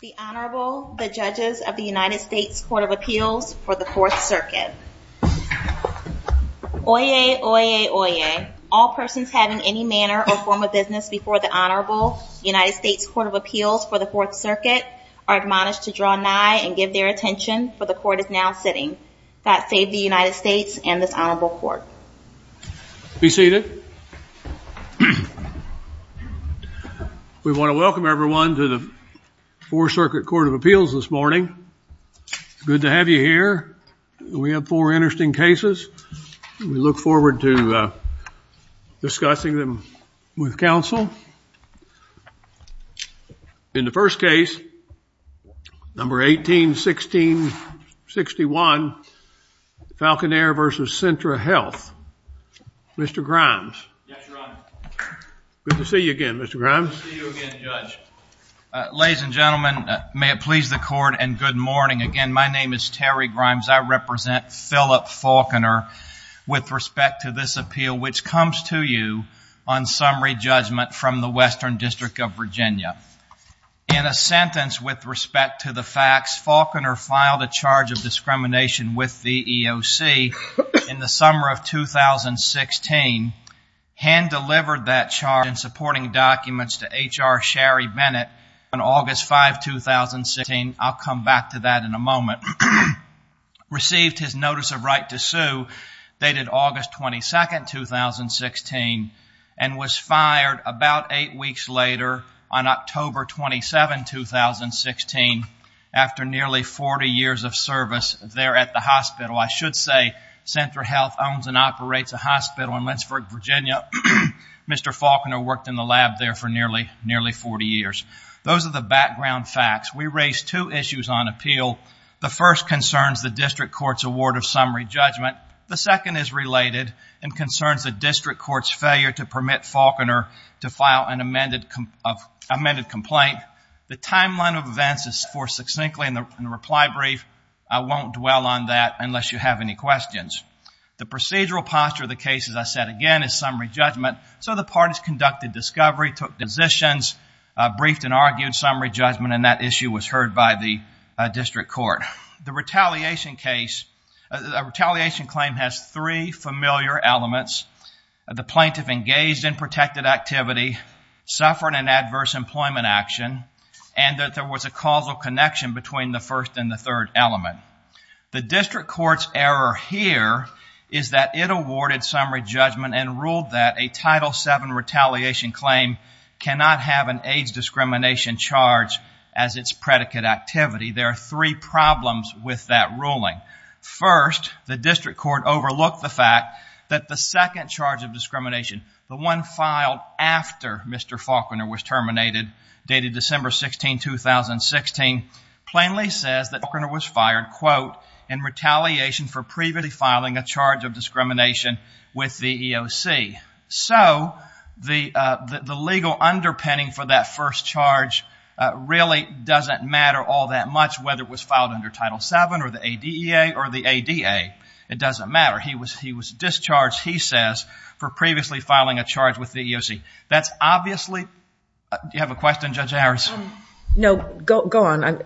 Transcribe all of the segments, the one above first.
The Honorable the Judges of the United States Court of Appeals for the Fourth Circuit. Oyez, oyez, oyez. All persons having any manner or form of business before the Honorable United States Court of Appeals for the Fourth Circuit are admonished to draw nigh and give their attention for the court is now sitting. God save the court. Welcome everyone to the Fourth Circuit Court of Appeals this morning. Good to have you here. We have four interesting cases. We look forward to discussing them with counsel. In the first case, number 18-16-61, Faulconer v. Centra Health. Mr. Grimes. Good to see you again, Mr. Grimes. Good to see you again, Judge. Ladies and gentlemen, may it please the court and good morning. Again, my name is Terry Grimes. I represent Philip Faulconer with respect to this appeal which comes to you on summary judgment from the Western District of Virginia. In a sentence with respect to the facts, Faulconer filed a charge of discrimination with the EOC in the summer of 2016, hand-delivered that charge and supporting documents to H.R. Sherry Bennett on August 5, 2016. I'll come back to that in a moment. Received his notice of right to sue dated August 22, 2016 and was fired about eight weeks later on October 27, 2016 after nearly 40 years of service there at the hospital. I should say, Centra Health owns and operates a hospital in Lynchburg, Virginia. Mr. Faulconer worked in the lab there for nearly 40 years. Those are the background facts. We raised two issues on appeal. The first concerns the district court's award of summary judgment. The second is related and concerns the district court's failure to permit Faulconer to file an amended complaint. The timeline of events is forth succinctly in the reply brief. I won't dwell on that unless you have any questions. The procedural posture of the case, as I said again, is summary judgment. So the parties conducted discovery, took decisions, briefed and argued summary judgment and that issue was heard by the district court. The retaliation claim has three familiar elements. The plaintiff engaged in protected activity, suffered an adverse employment action and that there was a causal connection between the first and the third element. The district court's error here is that it awarded summary judgment and ruled that a Title VII retaliation claim cannot have an AIDS discrimination charge as its predicate activity. There are three problems with that ruling. First, the district court overlooked the fact that the second charge of discrimination, the one filed after Mr. Faulconer was terminated, dated December 16, 2016, plainly says that Faulconer was fired, quote, in retaliation for previously filing a charge of discrimination with the EOC. So the legal underpinning for that first charge really doesn't matter all that much whether it was filed under Title VII or the for previously filing a charge with the EOC. That's obviously, do you have a question, Judge Harris? No, go on.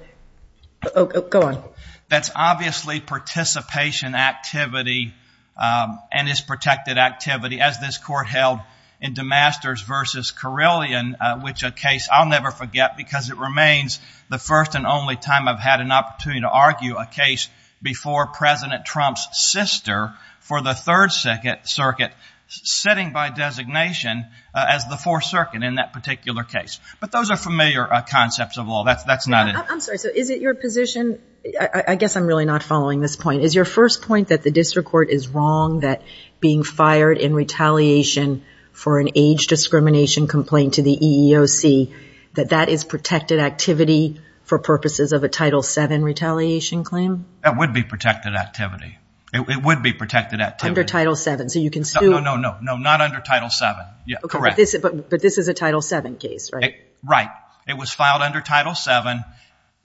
Go on. That's obviously participation activity and its protected activity as this court held in DeMasters v. Carillion, which a case I'll never forget because it remains the first and only time I've had an opportunity to argue a case before President Trump's sister for the Third Circuit setting by designation as the Fourth Circuit in that particular case. But those are familiar concepts of law. That's not it. I'm sorry, so is it your position, I guess I'm really not following this point, is your first point that the district court is wrong that being fired in retaliation for an AIDS discrimination complaint to the EEOC, that that is protected activity for purposes of a Title VII retaliation claim? That would be protected activity. It would be protected activity. Under Title VII, so you can still... No, no, no, no, not under Title VII. Yeah, correct. But this is a Title VII case, right? Right. It was filed under Title VII.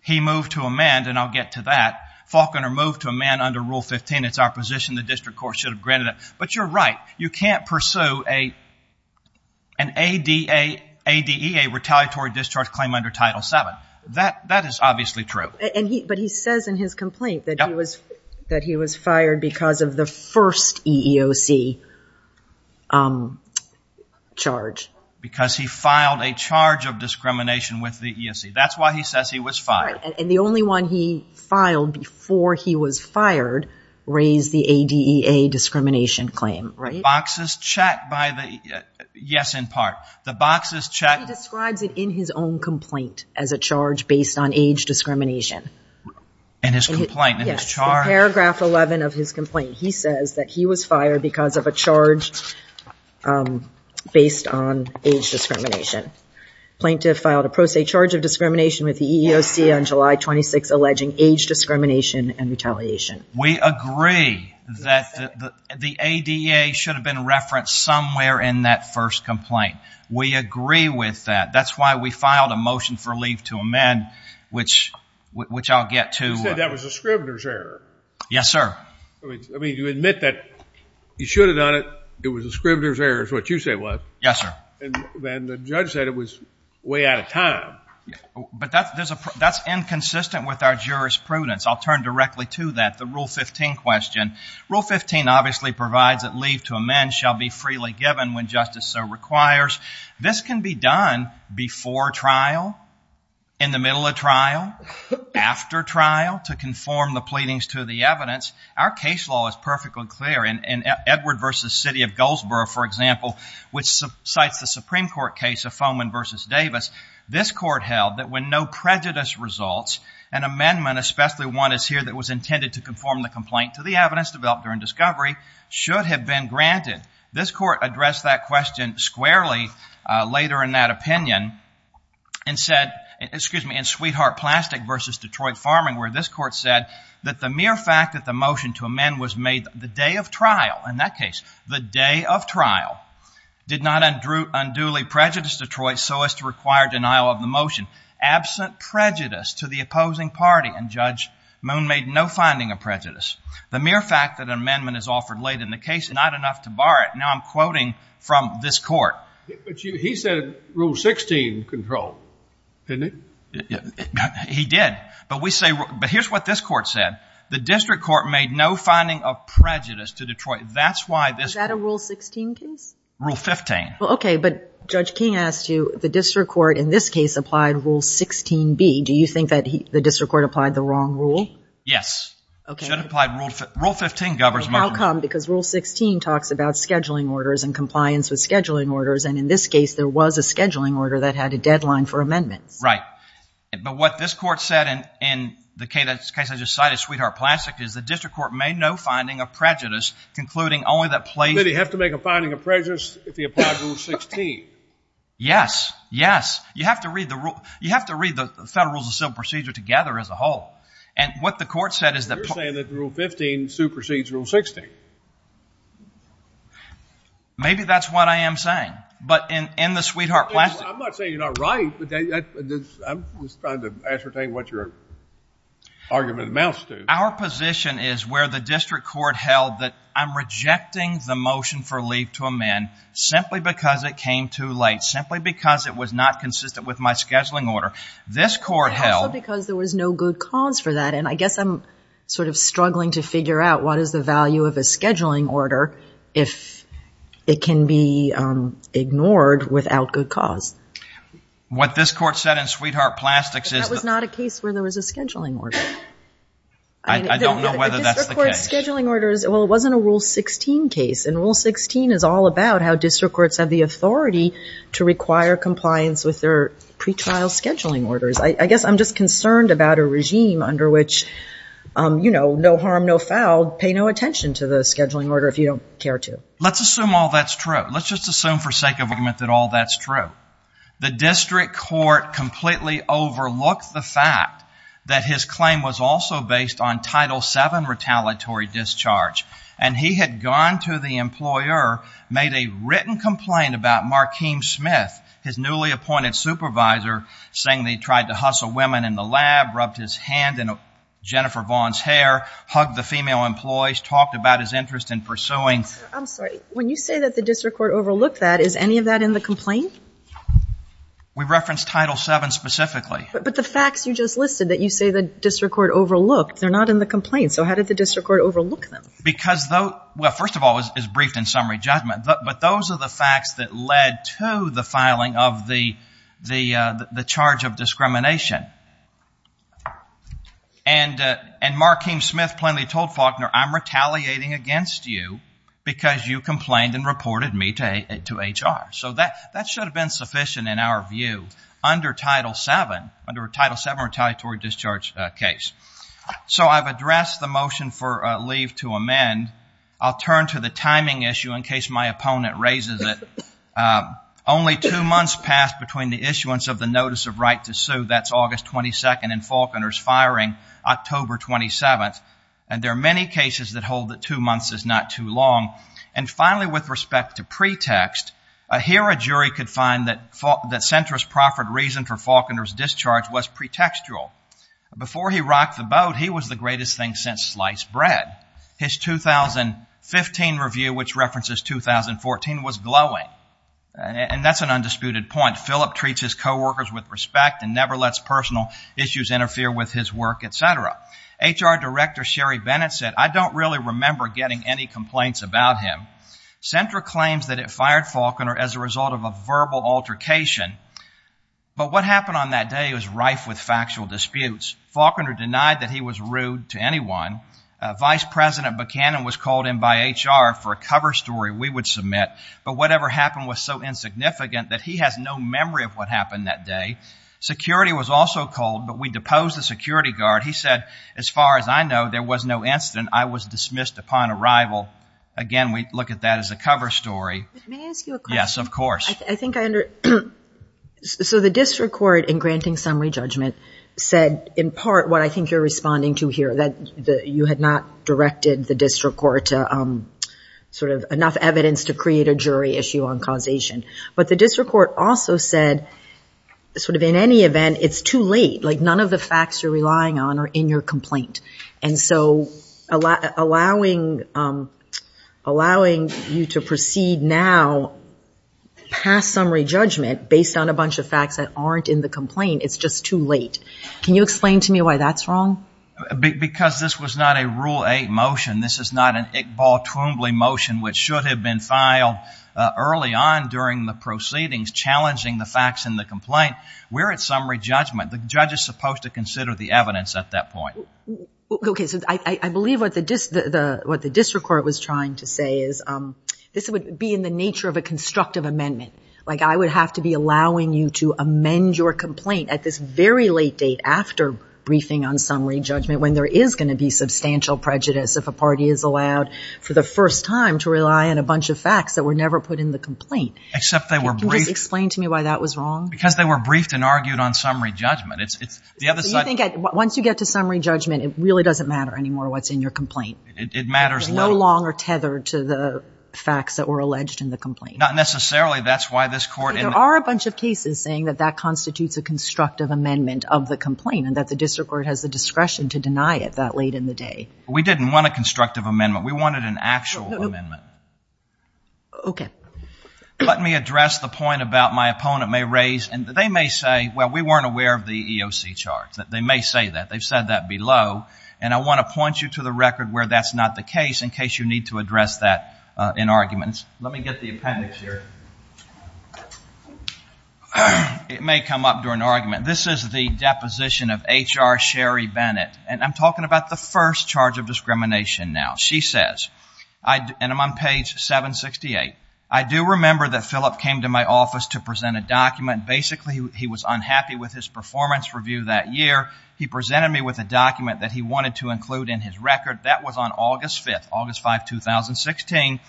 He moved to amend, and I'll get to that, Faulconer moved to amend under Rule 15. It's our position the district court should have granted it. But you're right. You can't pursue an ADA, ADEA retaliatory discharge claim under Title VII. That is obviously true. But he says in his complaint that he was fired because of the first EEOC charge. Because he filed a charge of discrimination with the EEOC. That's why he says he was fired. And the only one he filed before he was fired raised the ADEA discrimination claim, right? He describes it in his own complaint as a charge based on age discrimination. In his complaint, in his charge? In paragraph 11 of his complaint, he says that he was fired because of a charge based on age discrimination. Plaintiff filed a pro se charge of discrimination with somewhere in that first complaint. We agree with that. That's why we filed a motion for leave to amend, which I'll get to. You said that was a scrivener's error. Yes, sir. I mean, you admit that you should have done it. It was a scrivener's error is what you say it was. Yes, sir. And then the judge said it was way out of time. But that's inconsistent with our jurisprudence. I'll turn directly to that, the Rule 15 question. Rule 15 obviously provides that leave to amend shall be freely given when justice so requires. This can be done before trial, in the middle of trial, after trial, to conform the pleadings to the evidence. Our case law is perfectly clear. In Edward v. City of Goldsboro, for example, which cites the Supreme Court case of Foman v. Davis, this court held that when no prejudice results, an amendment, especially one as here that was intended to conform the complaint to the evidence developed during discovery, should have been granted. This court addressed that question squarely later in that opinion, and said, excuse me, in Sweetheart Plastic v. Detroit Farming, where this court said that the mere fact that the motion to amend was made the day of trial, in that case, the day of trial, did not unduly prejudice Detroit so as to require denial of the motion. Absent prejudice to the opposing party, and Judge Moon made no finding of prejudice. The mere fact that an amendment is offered late in the case, not enough to bar it. Now I'm quoting from this court. He said Rule 16 control, didn't he? He did. But we say, but here's what this court said. The district court made no finding of prejudice to Detroit. That's why this... Is that a Rule 16 case? Rule 15. Well, okay, but Judge King asked you, the district court in this case applied Rule 16B. Do you think that the district court applied the wrong rule? Yes. Should have applied Rule 15. Rule 15 governs motion. How come? Because Rule 16 talks about scheduling orders and compliance with scheduling orders, and in this case, there was a scheduling order that had a deadline for amendments. Right. But what this court said in the case I just cited, Sweetheart Plastic, is the district court made no finding of prejudice, concluding only that place... Did he have to make a finding of prejudice if he applied Rule 16? Yes. Yes. You have to read the Federal Rules of Civil Procedure together as a whole. And what the court said is that... You're saying that Rule 15 supersedes Rule 16. Maybe that's what I am saying, but in the Sweetheart Plastic... I'm not saying you're not right, but I'm just trying to ascertain what your argument amounts to. Our position is where the district court held that I'm rejecting the motion for leave to amend simply because it came too late, simply because it was not consistent with my scheduling order. This court held... Also because there was no good cause for that, and I guess I'm sort of struggling to figure out what is the value of a scheduling order if it can be ignored without good cause. What this court said in Sweetheart Plastics is... That was not a case where there was a scheduling order. I don't know whether that's the case. Well, it wasn't a Rule 16 case, and Rule 16 is all about how district courts have the authority to require compliance with their pretrial scheduling orders. I guess I'm just concerned about a regime under which, you know, no harm, no foul, pay no attention to the scheduling order if you don't care to. Let's assume all that's true. Let's just assume for sake of argument that all that's true. The district court completely overlooked the fact that his claim was also based on Title VII retaliatory discharge, and he had gone to the employer, made a written complaint about Markeem Smith, his newly appointed supervisor, saying they tried to hustle women in the lab, rubbed his hand in Jennifer Vaughn's hair, hugged the female employees, talked about his interest in pursuing... I'm sorry, when you say that the district court overlooked that, is any of that in the complaint? We referenced Title VII specifically. But the facts you just listed that you say the district court overlooked, they're not in the complaint. So how did the district court overlook them? Because those... Well, first of all, it's briefed in summary judgment, but those are the facts that led to the filing of the charge of discrimination. And Markeem Smith plainly told Faulkner, I'm retaliating against you because you complained and reported me to HR. So that should have been sufficient in our view under Title VII, under a Title VII retaliatory discharge case. So I've addressed the motion for leave to amend. I'll turn to the timing issue in case my opponent raises it. Only two months passed between the issuance of the notice of right to sue, that's August 22nd, and Faulkner's firing October 27th. And there are many cases that hold that two months is not too long. And finally, with respect to pretext, here a jury could find that centrist proffered reason for Faulkner's discharge was pretextual. Before he rocked the boat, he was the greatest thing since sliced bread. His 2015 review, which references 2014, was glowing. And that's an undisputed point. Philip treats his co-workers with respect and never lets personal issues interfere with his work, et cetera. HR Director Sherry Bennett said, I don't really remember getting any complaints about him. Sentra claims that it fired Faulkner as a result of a verbal altercation. But what happened on that day was rife with factual disputes. Faulkner denied that he was rude to anyone. Vice President Buchanan was called in by HR for a cover story we would submit. But whatever happened was so insignificant that he has no memory of what happened that day. Security was also called, but we deposed the security guard. He said, as far as I know, there was no incident. I was dismissed upon arrival. Again, we look at that as a cover story. But may I ask you a question? Yes, of course. So the district court, in granting summary judgment, said, in part, what I think you're responding to here, that you had not directed the district court to sort of enough evidence to create a jury issue on causation. But the district court also said, sort of in any event, it's too late. Like, none of the facts you're relying on are in your complaint. And so allowing you to proceed now past summary judgment based on a bunch of facts that aren't in the complaint, it's just too late. Can you explain to me why that's wrong? Because this was not a Rule 8 motion. This is not an Iqbal Twombly motion, which should have been filed early on during the proceedings, challenging the facts in the complaint. We're at summary judgment. The judge is supposed to consider the evidence at that point. OK, so I believe what the district court was trying to say is, this would be in the nature of a constructive amendment. Like, I would have to be allowing you to amend your complaint at this very late date after briefing on summary judgment when there is going to be substantial prejudice if a party is allowed, for the first time, to rely on a bunch of facts that were never put in the complaint. Except they were briefed. Explain to me why that was wrong. Because they were briefed and argued on summary judgment. It's the other side. Once you get to summary judgment, it really doesn't matter anymore what's in your complaint. It matters little. You're no longer tethered to the facts that were alleged in the complaint. Not necessarily. That's why this court— There are a bunch of cases saying that that constitutes a constructive amendment of the complaint, and that the district court has the discretion to deny it that late in the day. We didn't want a constructive amendment. We wanted an actual amendment. OK. Let me address the point about my opponent may raise, and they may say, well, we weren't aware of the EOC charts. They may say that. They've said that below. And I want to point you to the record where that's not the case, in case you need to address that in arguments. Let me get the appendix here. It may come up during argument. This is the deposition of HR Sherry Bennett. And I'm talking about the first charge of discrimination now. She says, and I'm on page 768, I do remember that Philip came to my office to present a document. Basically, he was unhappy with his performance review that year. He presented me with a document that he wanted to include in his record. That was on August 5th, August 5, 2016.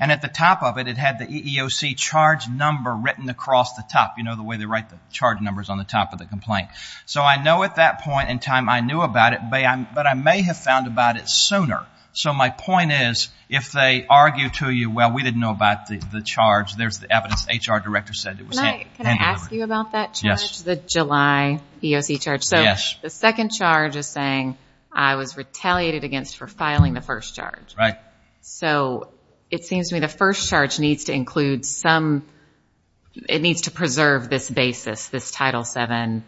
And at the top of it, it had the EEOC charge number written across the top. You know, the way they write the charge numbers on the top of the complaint. So I know at that point in time, I knew about it. But I may have found about it sooner. So my point is, if they argue to you, well, we didn't know about the charge. There's the evidence. HR director said it was him. Can I ask you about that charge, the July EEOC charge? So the second charge is saying I was retaliated against for filing the first charge. So it seems to me the first charge needs to include some, it needs to preserve this basis, this Title VII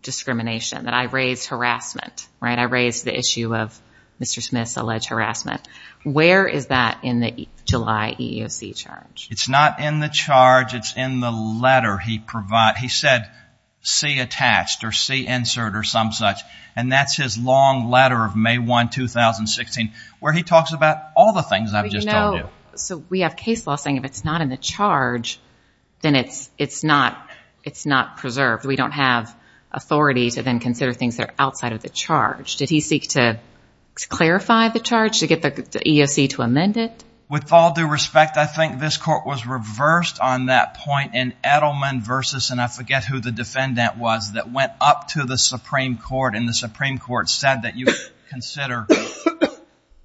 discrimination that I raised harassment. I raised the issue of Mr. Smith's alleged harassment. Where is that in the July EEOC charge? It's not in the charge. It's in the letter he provided. He said, see attached or see insert or some such. And that's his long letter of May 1, 2016, where he talks about all the things I've just told you. So we have case law saying if it's not in the charge, then it's not preserved. We don't have authority to then consider things that are outside of the charge. Did he seek to clarify the charge to get the EEOC to amend it? With all due respect, I think this court was reversed on that point in Edelman versus, and I forget who the defendant was, that went up to the Supreme Court and the Supreme Court said that you consider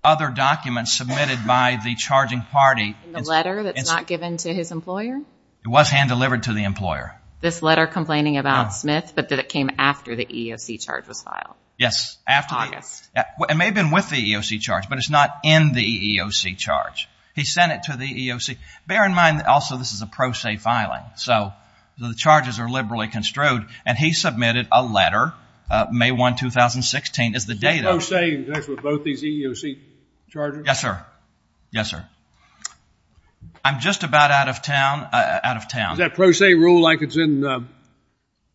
other documents submitted by the charging party. The letter that's not given to his employer? It was hand delivered to the employer. This letter complaining about Smith, but that it came after the EEOC charge was filed? Yes, after August. It may have been with the EEOC charge, but it's not in the EEOC charge. He sent it to the EEOC. Bear in mind, also, this is a pro se filing. So the charges are liberally construed. And he submitted a letter, May 1, 2016, is the date of. Pro se in connection with both these EEOC charges? Yes, sir. Yes, sir. I'm just about out of town, out of town. Is that pro se rule like it's in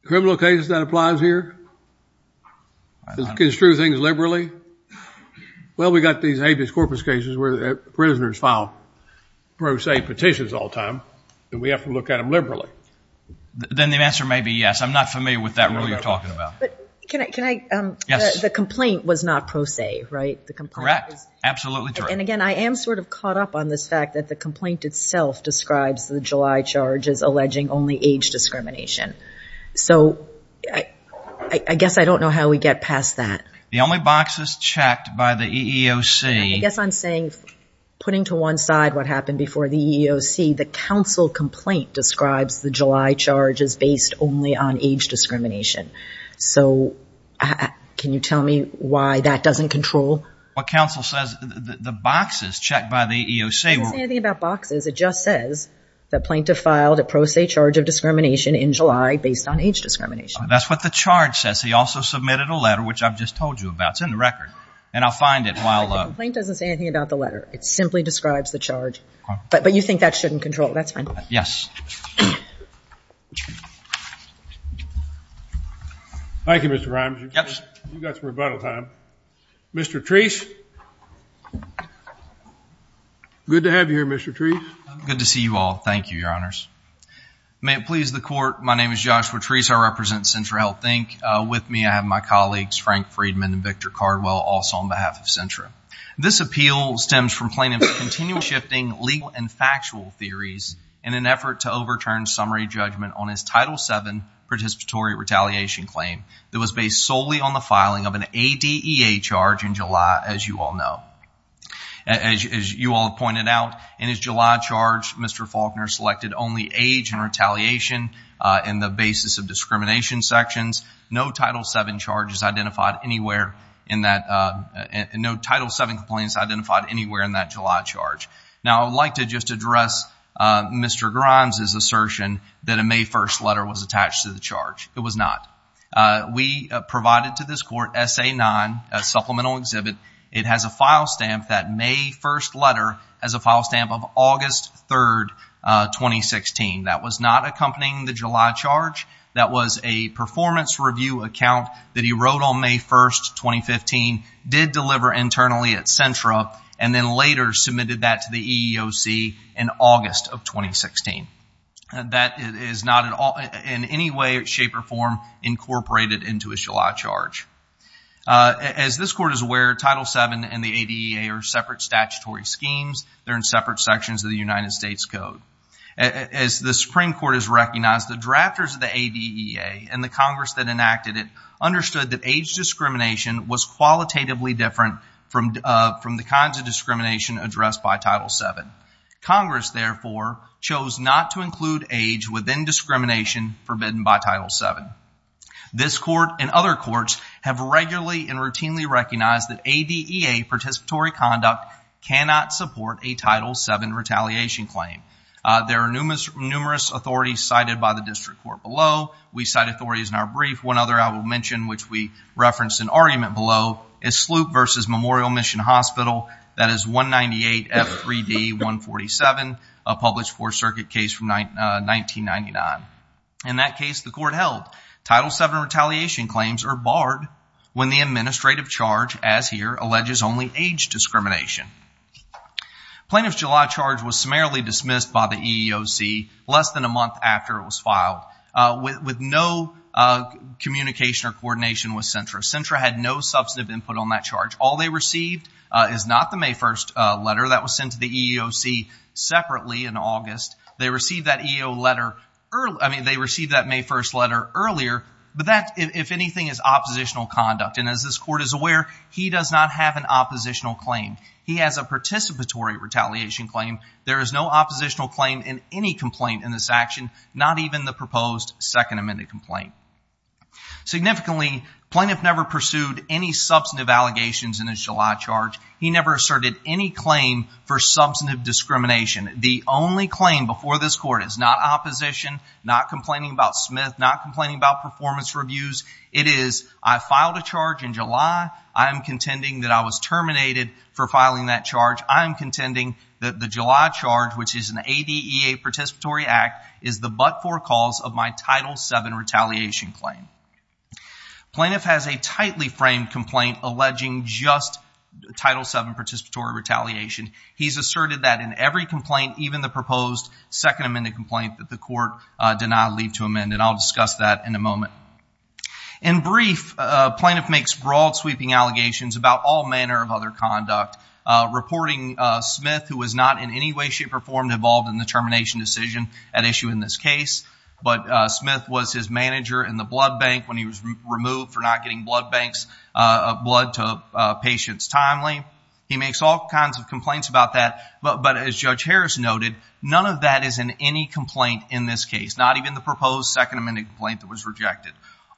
criminal cases that applies here? Construe things liberally? Well, we got these habeas corpus cases where prisoners file pro se petitions all time. And we have to look at them liberally. Then the answer may be yes. I'm not familiar with that rule you're talking about. But can I, can I? Yes. The complaint was not pro se, right? Correct. Absolutely true. And again, I am sort of caught up on this fact that the complaint itself describes the July charge as alleging only age discrimination. So I guess I don't know how we get past that. The only boxes checked by the EEOC. I guess I'm saying, putting to one side what happened before the EEOC, the counsel complaint describes the July charge as based only on age discrimination. So can you tell me why that doesn't control? What counsel says, the boxes checked by the EEOC. It doesn't say anything about boxes. It just says that plaintiff filed a pro se charge of discrimination in July based on age discrimination. That's what the charge says. He also submitted a letter, which I've just told you about. It's in the record. And I'll find it while- The complaint doesn't say anything about the letter. It simply describes the charge. But you think that shouldn't control. That's fine. Yes. Thank you, Mr. Rimes. You got some rebuttal time. Mr. Treece. Good to have you here, Mr. Treece. Good to see you all. Thank you, your honors. May it please the court. My name is Joshua Treece. I represent Centra Health Inc. With me, I have my colleagues, Frank Friedman and Victor Cardwell, also on behalf of Centra. This appeal stems from plaintiffs' continual shifting legal and factual theories in an effort to overturn summary judgment on his Title VII participatory retaliation claim that was based solely on the filing of an ADEA charge in July, as you all know. As you all pointed out, in his July charge, Mr. Faulkner selected only age and retaliation in the basis of discrimination sections. No Title VII charges identified anywhere in that... No Title VII complaints identified anywhere in that July charge. Now, I'd like to just address Mr. Grimes' assertion that a May 1st letter was attached to the charge. It was not. We provided to this court SA-9, a supplemental exhibit. It has a file stamp that May 1st letter has a file stamp of August 3rd, 2016. That was not accompanying the July charge. That was a performance review account that he wrote on May 1st, 2015, did deliver internally at Centra, and then later submitted that to the EEOC in August of 2016. That is not in any way, shape, or form incorporated into his July charge. As this court is aware, Title VII and the ADEA are separate statutory schemes. They're in separate sections of the United States Code. As the Supreme Court has recognized, the drafters of the ADEA and the Congress that enacted it understood that age discrimination was qualitatively different from the kinds of discrimination addressed by Title VII. Congress, therefore, chose not to include age within discrimination forbidden by Title VII. This court and other courts have regularly and routinely recognized that ADEA participatory conduct cannot support a Title VII retaliation claim. There are numerous authorities cited by the district court below. We cite authorities in our brief. One other I will mention, which we referenced in argument below, is Sloop versus Memorial Mission Hospital. That is 198F3D147, a published Fourth Circuit case from 1999. In that case, the court held. Title VII retaliation claims are barred when the administrative charge, as here, alleges only age discrimination. Plaintiff's July charge was summarily dismissed by the EEOC less than a month after it was filed with no communication or coordination with CENTRA. CENTRA had no substantive input on that charge. All they received is not the May 1st letter that was sent to the EEOC separately in August. They received that EEOC letter, I mean, they received that May 1st letter earlier, but that, if anything, is oppositional conduct. And as this court is aware, he does not have an oppositional claim. He has a participatory retaliation claim. There is no oppositional claim in any complaint in this action, not even the proposed second amended complaint. Significantly, plaintiff never pursued any substantive allegations in his July charge. He never asserted any claim for substantive discrimination. The only claim before this court is not opposition, not complaining about Smith, not complaining about performance reviews. It is, I filed a charge in July. I am contending that I was terminated for filing that charge. I am contending that the July charge, which is an ADEA participatory act, is the but-for cause of my Title VII retaliation claim. Plaintiff has a tightly framed complaint alleging just Title VII participatory retaliation. He's asserted that in every complaint, even the proposed second amended complaint, that the court denied leave to amend. And I'll discuss that in a moment. In brief, plaintiff makes broad sweeping allegations about all manner of other conduct, reporting Smith, who was not in any way, shape, or form, involved in the termination decision at issue in this case. But Smith was his manager in the blood bank when he was removed for not getting blood banks of blood to patients timely. He makes all kinds of complaints about that, but as Judge Harris noted, none of that is in any complaint in this case, not even the proposed second amended complaint that was rejected.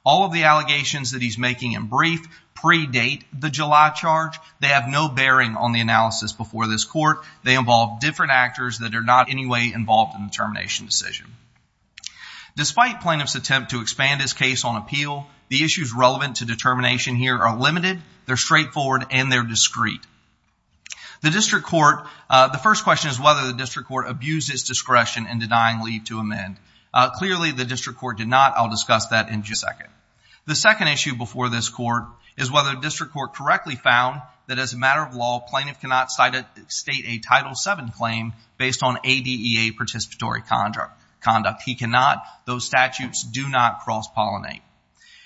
All of the allegations that he's making in brief predate the July charge. They have no bearing on the analysis before this court. They involve different actors that are not in any way involved in the termination decision. Despite plaintiff's attempt to expand his case on appeal, the issues relevant to determination here are limited, they're straightforward, and they're discreet. The District Court, the first question is whether the District Court abused its discretion in denying leave to amend. Clearly, the District Court did not. I'll discuss that in just a second. The second issue before this court is whether the District Court correctly found that as a matter of law, plaintiff cannot state a Title VII claim based on ADEA participatory conduct. He cannot. Those statutes do not cross-pollinate.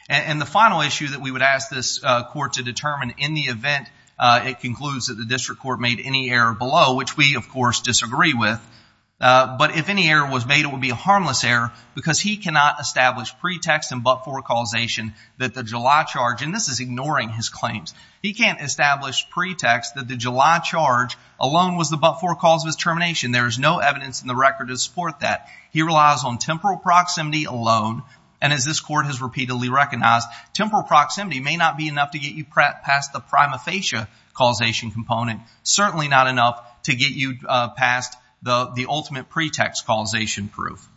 And the final issue that we would ask this court to determine in the event it concludes that the District Court made any error below, which we, of course, disagree with, but if any error was made, it would be a harmless error because he cannot establish pretext and but-for causation that the July charge, and this is ignoring his claims, he can't establish pretext that the July charge alone was the but-for cause of his termination. There is no evidence in the record to support that. He relies on temporal proximity alone. And as this court has repeatedly recognized, temporal proximity may not be enough to get you past the prima facie causation component, certainly not enough to get you past the ultimate pretext causation proof.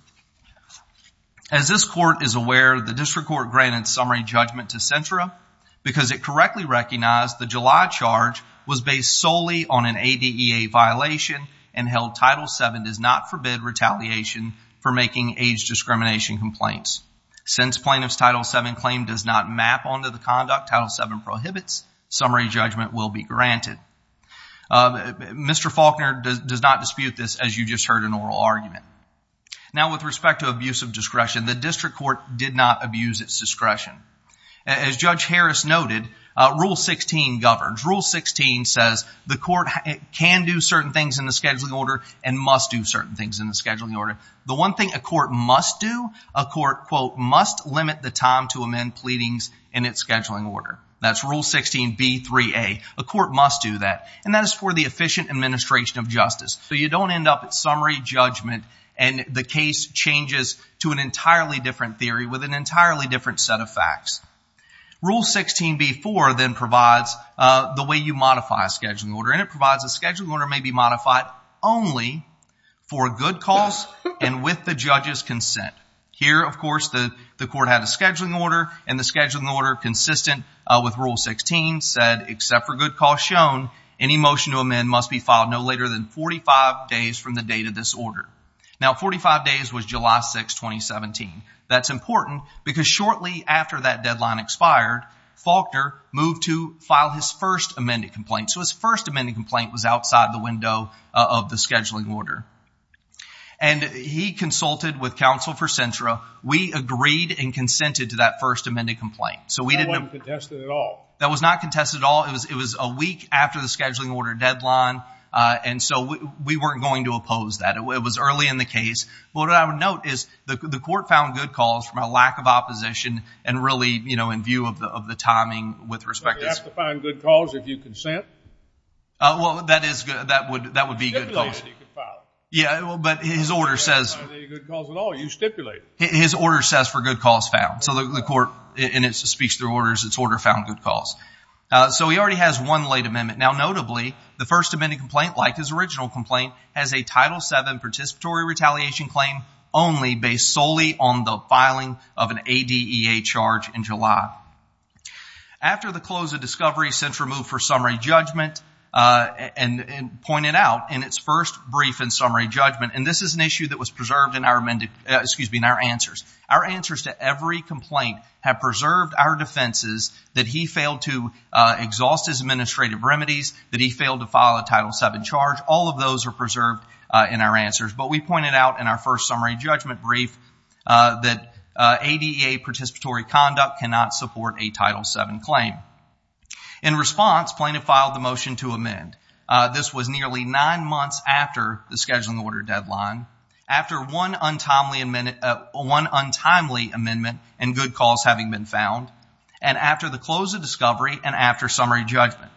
As this court is aware, the District Court granted summary judgment to Cintra because it correctly recognized the July charge was based solely on an ADEA violation and held Title VII does not forbid retaliation for making age discrimination complaints. Since plaintiff's Title VII claim does not map onto the conduct Title VII prohibits, summary judgment will be granted. Mr. Faulkner does not dispute this as you just heard an oral argument. Now, with respect to abuse of discretion, the District Court did not abuse its discretion. As Judge Harris noted, Rule 16 governs. Rule 16 says the court can do certain things in the scheduling order and must do certain things in the scheduling order. The one thing a court must do, a court, quote, must limit the time to amend pleadings in its scheduling order. That's Rule 16b3a. A court must do that. And that is for the efficient administration of justice. So you don't end up at summary judgment and the case changes to an entirely different theory with an entirely different set of facts. Rule 16b4 then provides the way you modify a scheduling order. And it provides a scheduling order may be modified only for good cause and with the judge's consent. Here, of course, the court had a scheduling order and the scheduling order consistent with Rule 16 said, except for good cause shown, any motion to amend must be filed no later than 45 days from the date of this order. Now, 45 days was July 6, 2017. That's important because shortly after that deadline expired, Faulkner moved to file his first amended complaint. So his first amended complaint was outside the window of the scheduling order. And he consulted with counsel for Cintra. We agreed and consented to that first amended complaint. So we didn't... That wasn't contested at all. That was not contested at all. It was a week after the scheduling order deadline. And so we weren't going to oppose that. It was early in the case. What I would note is the court found good cause from a lack of opposition and really, you know, in view of the timing with respect to... Good cause, if you consent. Well, that is good. That would be good. Yeah, well, but his order says... His order says for good cause found. So the court in its speech through orders, its order found good cause. So he already has one late amendment. Now, notably, the first amended complaint, like his original complaint, has a Title VII participatory retaliation claim only based solely on the filing of an ADEA charge in July. After the close of discovery, Sentra moved for summary judgment and pointed out in its first brief and summary judgment... And this is an issue that was preserved in our answers. Our answers to every complaint have preserved our defenses that he failed to exhaust his administrative remedies, that he failed to file a Title VII charge. All of those are preserved in our answers. But we pointed out in our first summary judgment brief that ADEA participatory conduct cannot support a Title VII claim. In response, plaintiff filed the motion to amend. This was nearly nine months after the scheduling order deadline, after one untimely amendment and good cause having been found, and after the close of discovery and after summary judgment.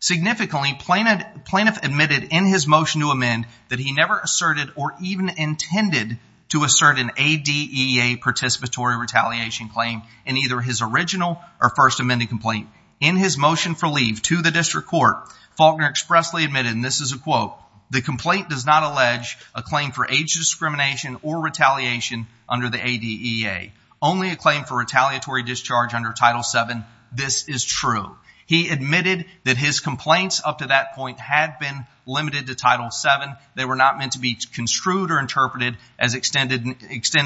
Significantly, plaintiff admitted in his motion to amend that he never asserted or even intended to assert an ADEA participatory retaliation claim in either his original or first amended complaint. In his motion for leave to the district court, Faulkner expressly admitted, and this is a quote, the complaint does not allege a claim for age discrimination or retaliation under the ADEA, only a claim for retaliatory discharge under Title VII. This is true. He admitted that his complaints up to that point had been limited to Title VII. They were not meant to be construed or interpreted as extending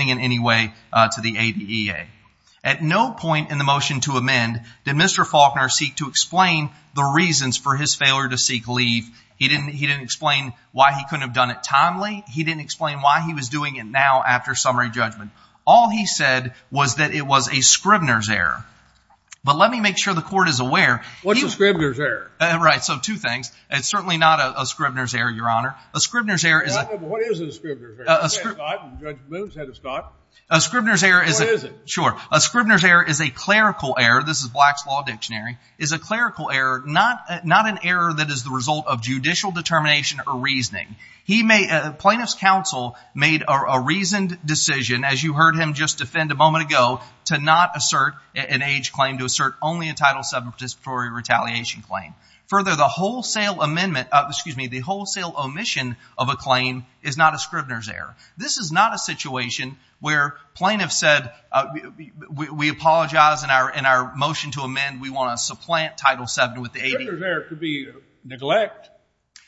in any way to the ADEA. At no point in the motion to amend did Mr. Faulkner seek to explain the reasons for his failure to seek leave. He didn't explain why he couldn't have done it timely. He didn't explain why he was doing it now after summary judgment. All he said was that it was a Scribner's error. But let me make sure the court is aware. What's a Scribner's error? Right. So two things. It's certainly not a Scribner's error, Your Honor. A Scribner's error is a clerical error. This is Black's Law Dictionary. It's a clerical error, not an error that is the result of judicial determination or reasoning. Plaintiff's counsel made a reasoned decision, as you heard him just defend a moment ago, to not assert an age claim, to assert only a Title VII retaliation claim. Further, the wholesale omission of a claim is not a Scribner's error. This is not a situation where plaintiff said, we apologize in our motion to amend. We want to supplant Title VII with the 80. Scribner's error could be neglect.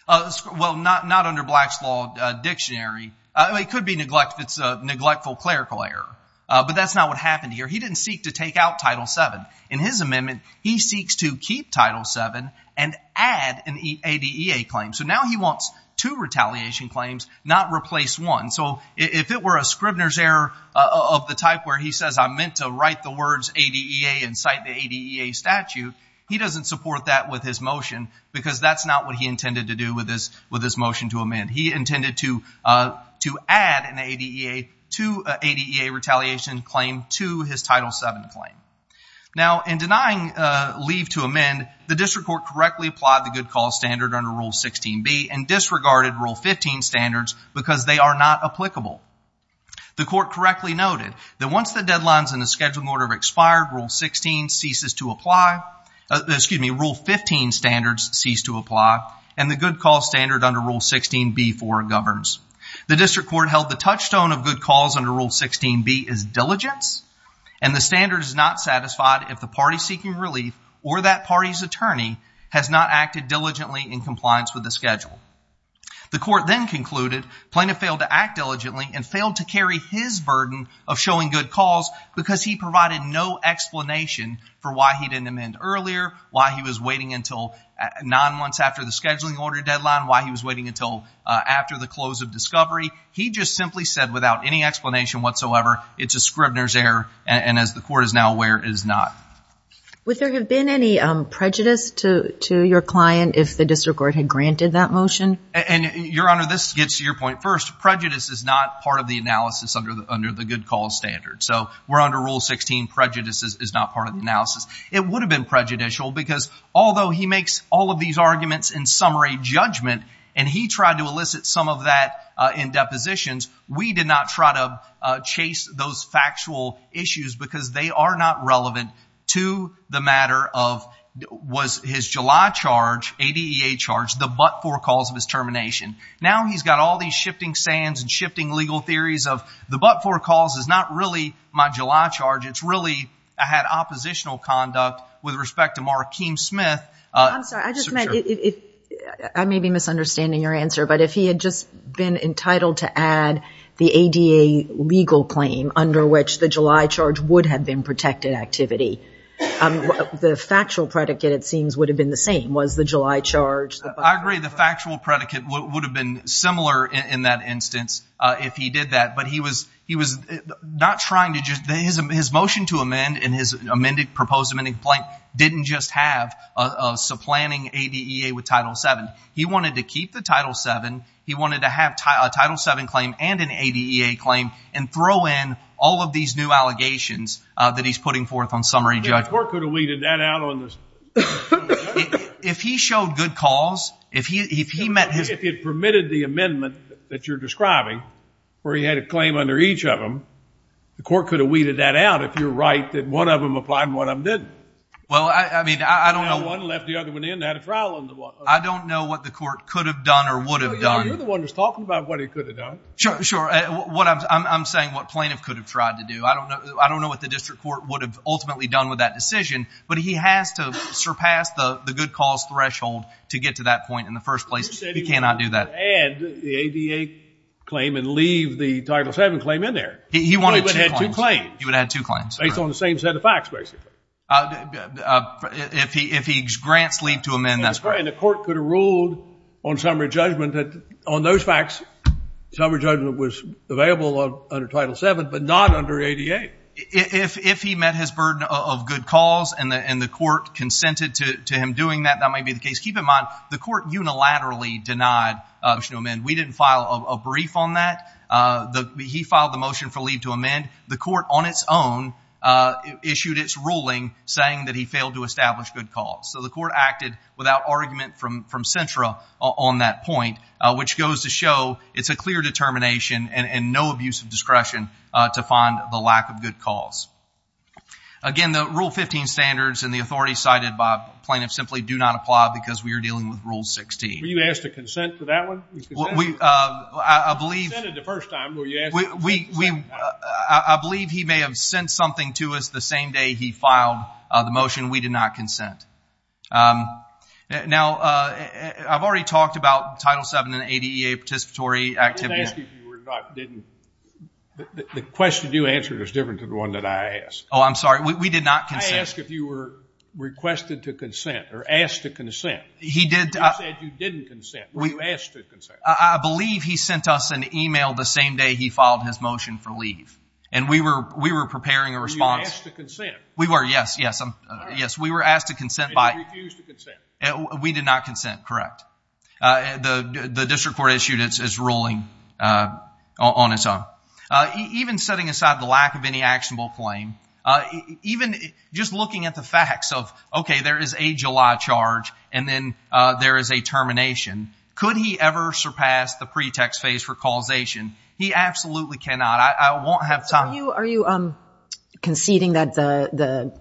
Well, not under Black's Law Dictionary. It could be neglect if it's a neglectful clerical error. But that's not what happened here. He didn't seek to take out Title VII. In his amendment, he seeks to keep Title VII and add an ADEA claim. So now he wants two retaliation claims, not replace one. So if it were a Scribner's error of the type where he says, I meant to write the words ADEA and cite the ADEA statute, he doesn't support that with his motion because that's not what he intended to do with this motion to amend. He intended to add an ADEA retaliation claim to his Title VII claim. Now, in denying leave to amend, the district court correctly applied the good cause standard under Rule 16b and disregarded Rule 15 standards because they are not applicable. The court correctly noted that once the deadlines in the scheduled order have expired, Rule 16 ceases to apply, excuse me, Rule 15 standards cease to apply and the good cause standard under Rule 16b4 governs. The district court held the touchstone of good cause under Rule 16b is diligence and the standard is not satisfied if the party seeking relief or that party's attorney has not acted diligently in compliance with the schedule. The court then concluded Plaintiff failed to act diligently and failed to carry his burden of showing good cause because he provided no explanation for why he didn't amend earlier, why he was waiting until nine months after the scheduling order deadline, why he was waiting until after the close of discovery. He just simply said without any explanation whatsoever, it's a Scribner's error and as the court is now aware, it is not. Would there have been any prejudice to your client if the district court had granted that motion? And Your Honor, this gets to your point first. Prejudice is not part of the analysis under the good cause standard. So we're under Rule 16, prejudice is not part of the analysis. It would have been prejudicial because although he makes all of these arguments in summary judgment and he tried to elicit some of that in depositions, we did not try to chase those factual issues because they are not relevant to the matter of was his July charge, ADEA charge, the but-for cause of his termination. Now he's got all these shifting sands and shifting legal theories of the but-for cause is not really my July charge, it's really I had oppositional conduct with respect to Markeem Smith. I'm sorry, I just meant, I may be misunderstanding your answer, but if he had just been entitled to add the ADA legal claim under which the July charge would have been protected activity, the factual predicate, it seems, would have been the same, was the July charge. I agree the factual predicate would have been similar in that instance if he did that, but he was not trying to just, his motion to amend and his proposed amending complaint didn't just have a supplanting ADEA with Title VII. He wanted to keep the Title VII, he wanted to have a Title VII claim and an ADEA claim and throw in all of these new allegations that he's putting forth on summary judgment. The court could have weeded that out on this. If he showed good cause, if he met his... If he had permitted the amendment that you're describing, where he had a claim under each of them, the court could have weeded that out if you're right that one of them applied and one of them didn't. Well, I mean, I don't know. One left the other one in, had a trial on the one. I don't know what the court could have done or would have done. You're the one who's talking about what he could have done. Sure, sure. I'm saying what plaintiff could have tried to do. I don't know what the district court would have ultimately done with that decision, but he has to surpass the good cause threshold to get to that point in the first place. He cannot do that. He said he would add the ADEA claim and leave the Title VII claim in there. He wanted two claims. He would add two claims. Based on the same set of facts, basically. If he grants leave to amend, that's correct. The court could have ruled on summary judgment that on those facts, summary judgment was available under Title VII, but not under ADEA. If he met his burden of good cause and the court consented to him doing that, that might be the case. Keep in mind, the court unilaterally denied a motion to amend. We didn't file a brief on that. He filed the motion for leave to amend. The court on its own issued its ruling saying that he failed to establish good cause. So the court acted without argument from Cintra on that point, which goes to show it's a clear determination and no abuse of discretion to find the lack of good cause. Again, the Rule 15 standards and the authority cited by plaintiffs simply do not apply because we are dealing with Rule 16. Were you asked to consent to that one? I believe... You consented the first time. I believe he may have sent something to us the same day he filed the motion. We did not consent. Now, I've already talked about Title VII and ADEA participatory activity. I didn't ask if you were not, didn't... The question you answered is different to the one that I asked. Oh, I'm sorry. We did not consent. I asked if you were requested to consent or asked to consent. He did... You said you didn't consent. Were you asked to consent? I believe he sent us an email the same day he filed his motion for leave and we were preparing a response. Were you asked to consent? We were, yes, yes. Yes, we were asked to consent by... You refused to consent. We did not consent, correct. The district court issued its ruling on its own. Even setting aside the lack of any actionable claim, even just looking at the facts of, okay, there is a July charge and then there is a termination. Could he ever surpass the pretext phase for causation? He absolutely cannot. I won't have time... Are you conceding that the...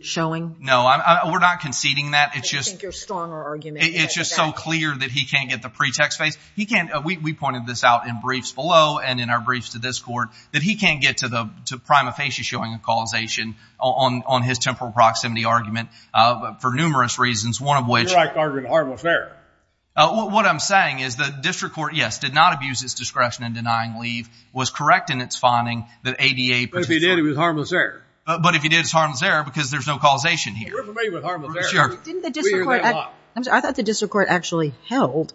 Showing? No, we're not conceding that. I think you're stronger arguing that. It's just so clear that he can't get the pretext phase. He can't... We pointed this out in briefs below and in our briefs to this court that he can't get to the prima facie showing a causation on his temporal proximity argument for numerous reasons, one of which... You're arguing harmless error. What I'm saying is the district court, yes, did not abuse its discretion in denying leave, was correct in its finding that ADA... But if he did, it was harmless error. But if he did, it's harmless error because there's no causation here. We're familiar with harmless error. Sure. I thought the district court actually held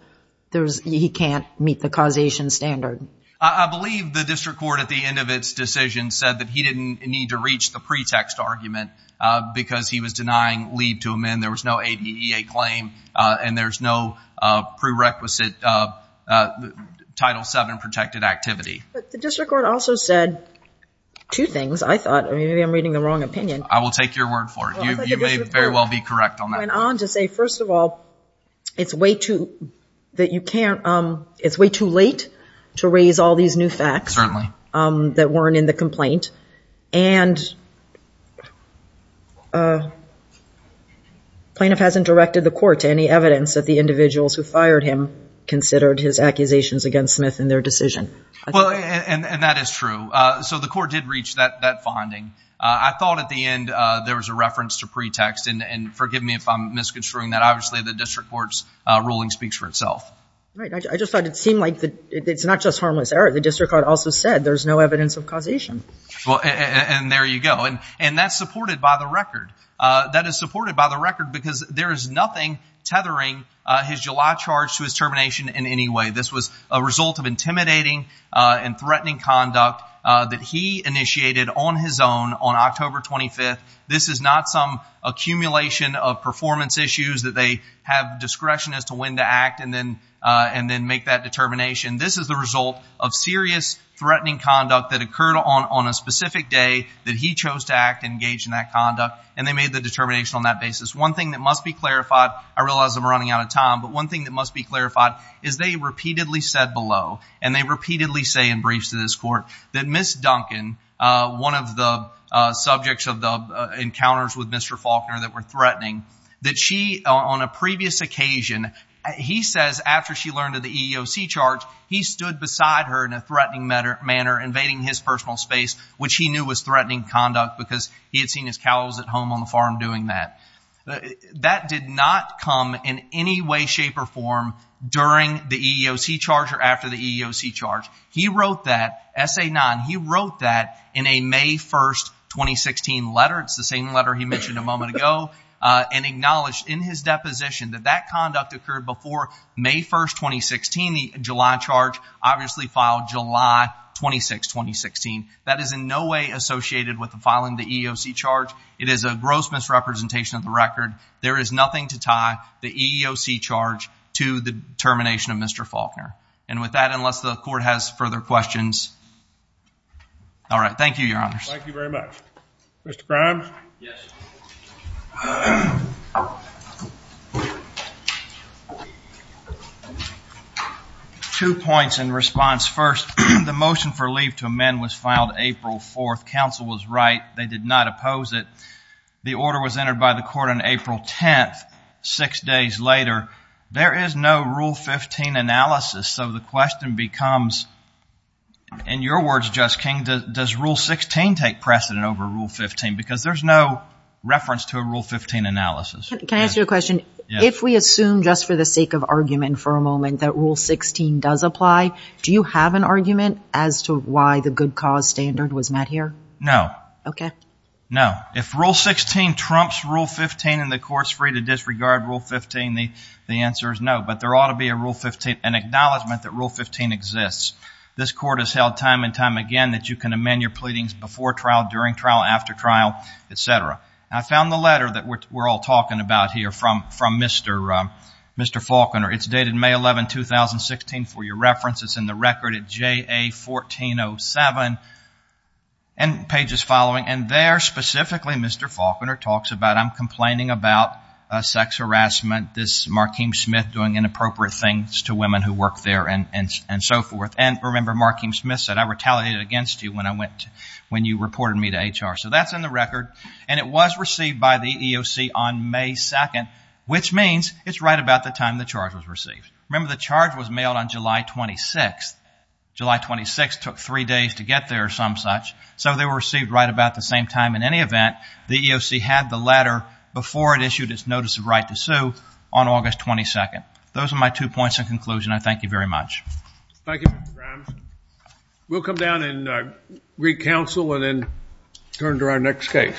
he can't meet the causation standard. I believe the district court at the end of its decision said that he didn't need to reach the pretext argument because he was denying leave to amend. There was no ADA claim and there's no prerequisite Title VII protected activity. But the district court also said two things. I thought... Maybe I'm reading the wrong opinion. I will take your word for it. You may very well be correct on that. I went on to say, first of all, it's way too late to raise all these new facts that weren't in the complaint. And plaintiff hasn't directed the court to any evidence that the individuals who fired him considered his accusations against Smith in their decision. Well, and that is true. So the court did reach that finding. I thought at the end, there was a reference to pretext. And forgive me if I'm misconstruing that. Obviously, the district court's ruling speaks for itself. Right. I just thought it seemed like it's not just harmless error. The district court also said there's no evidence of causation. Well, and there you go. And that's supported by the record. That is supported by the record because there is nothing tethering his July charge to his termination in any way. This was a result of intimidating and threatening conduct that he initiated on his own on October 25th. This is not some accumulation of performance issues that they have discretion as to when to act and then make that determination. This is the result of serious threatening conduct that occurred on a specific day that he chose to act and engage in that conduct. And they made the determination on that basis. One thing that must be clarified, I realize I'm running out of time, but one thing that must be clarified is they repeatedly said below and they repeatedly say in briefs to this court that Ms. Duncan, one of the subjects of the encounters with Mr. Faulkner that were threatening, that she on a previous occasion, he says after she learned of the EEOC charge, he stood beside her in a threatening manner invading his personal space, which he knew was threatening conduct because he had seen his cows at home on the farm doing that. That did not come in any way, shape or form during the EEOC charge or after the EEOC charge. He wrote that, SA 9, he wrote that in a May 1st, 2016 letter. It's the same letter he mentioned a moment ago and acknowledged in his deposition that that conduct occurred before May 1st, 2016. The July charge obviously filed July 26, 2016. That is in no way associated with the filing the EEOC charge. It is a gross misrepresentation of the record. There is nothing to tie the EEOC charge to the termination of Mr. Faulkner. And with that, unless the court has further questions. All right. Thank you, Your Honors. Thank you very much. Mr. Grimes. Yes. Two points in response. First, the motion for leave to amend was filed April 4th. Council was right. They did not oppose it. The order was entered by the court on April 10th. Six days later, there is no Rule 15 analysis. So the question becomes, in your words, Justice King, does Rule 16 take precedent over Rule 15? Because there's no reference to a Rule 15 analysis. Can I ask you a question? If we assume, just for the sake of argument for a moment, that Rule 16 does apply, do you have an argument as to why the good cause standard was met here? No. Okay. No. If Rule 16 trumps Rule 15 and the court's free to disregard Rule 15, the answer is no. But there ought to be a Rule 15 and acknowledgement that Rule 15 exists. This court has held time and time again that you can amend your pleadings before trial, during trial, after trial, et cetera. I found the letter that we're all talking about here from Mr. Faulconer. It's dated May 11, 2016. For your reference, it's in the record at JA1407 and pages following. And there, specifically, Mr. Faulconer talks about, I'm complaining about sex harassment, this Markeem Smith doing inappropriate things to women who work there and so forth. And remember, Markeem Smith said, I retaliated against you when you reported me to HR. So that's in the record. And it was received by the EEOC on May 2nd, which means it's right about the time the charge was received. Remember, the charge was mailed on July 26th. July 26th took three days to get there or some such. So they were received right about the same time. In any event, the EEOC had the letter before it issued its notice of right to sue on August 22nd. Those are my two points in conclusion. I thank you very much. Thank you, Mr. Grimes. We'll come down and read counsel and then turn to our next case.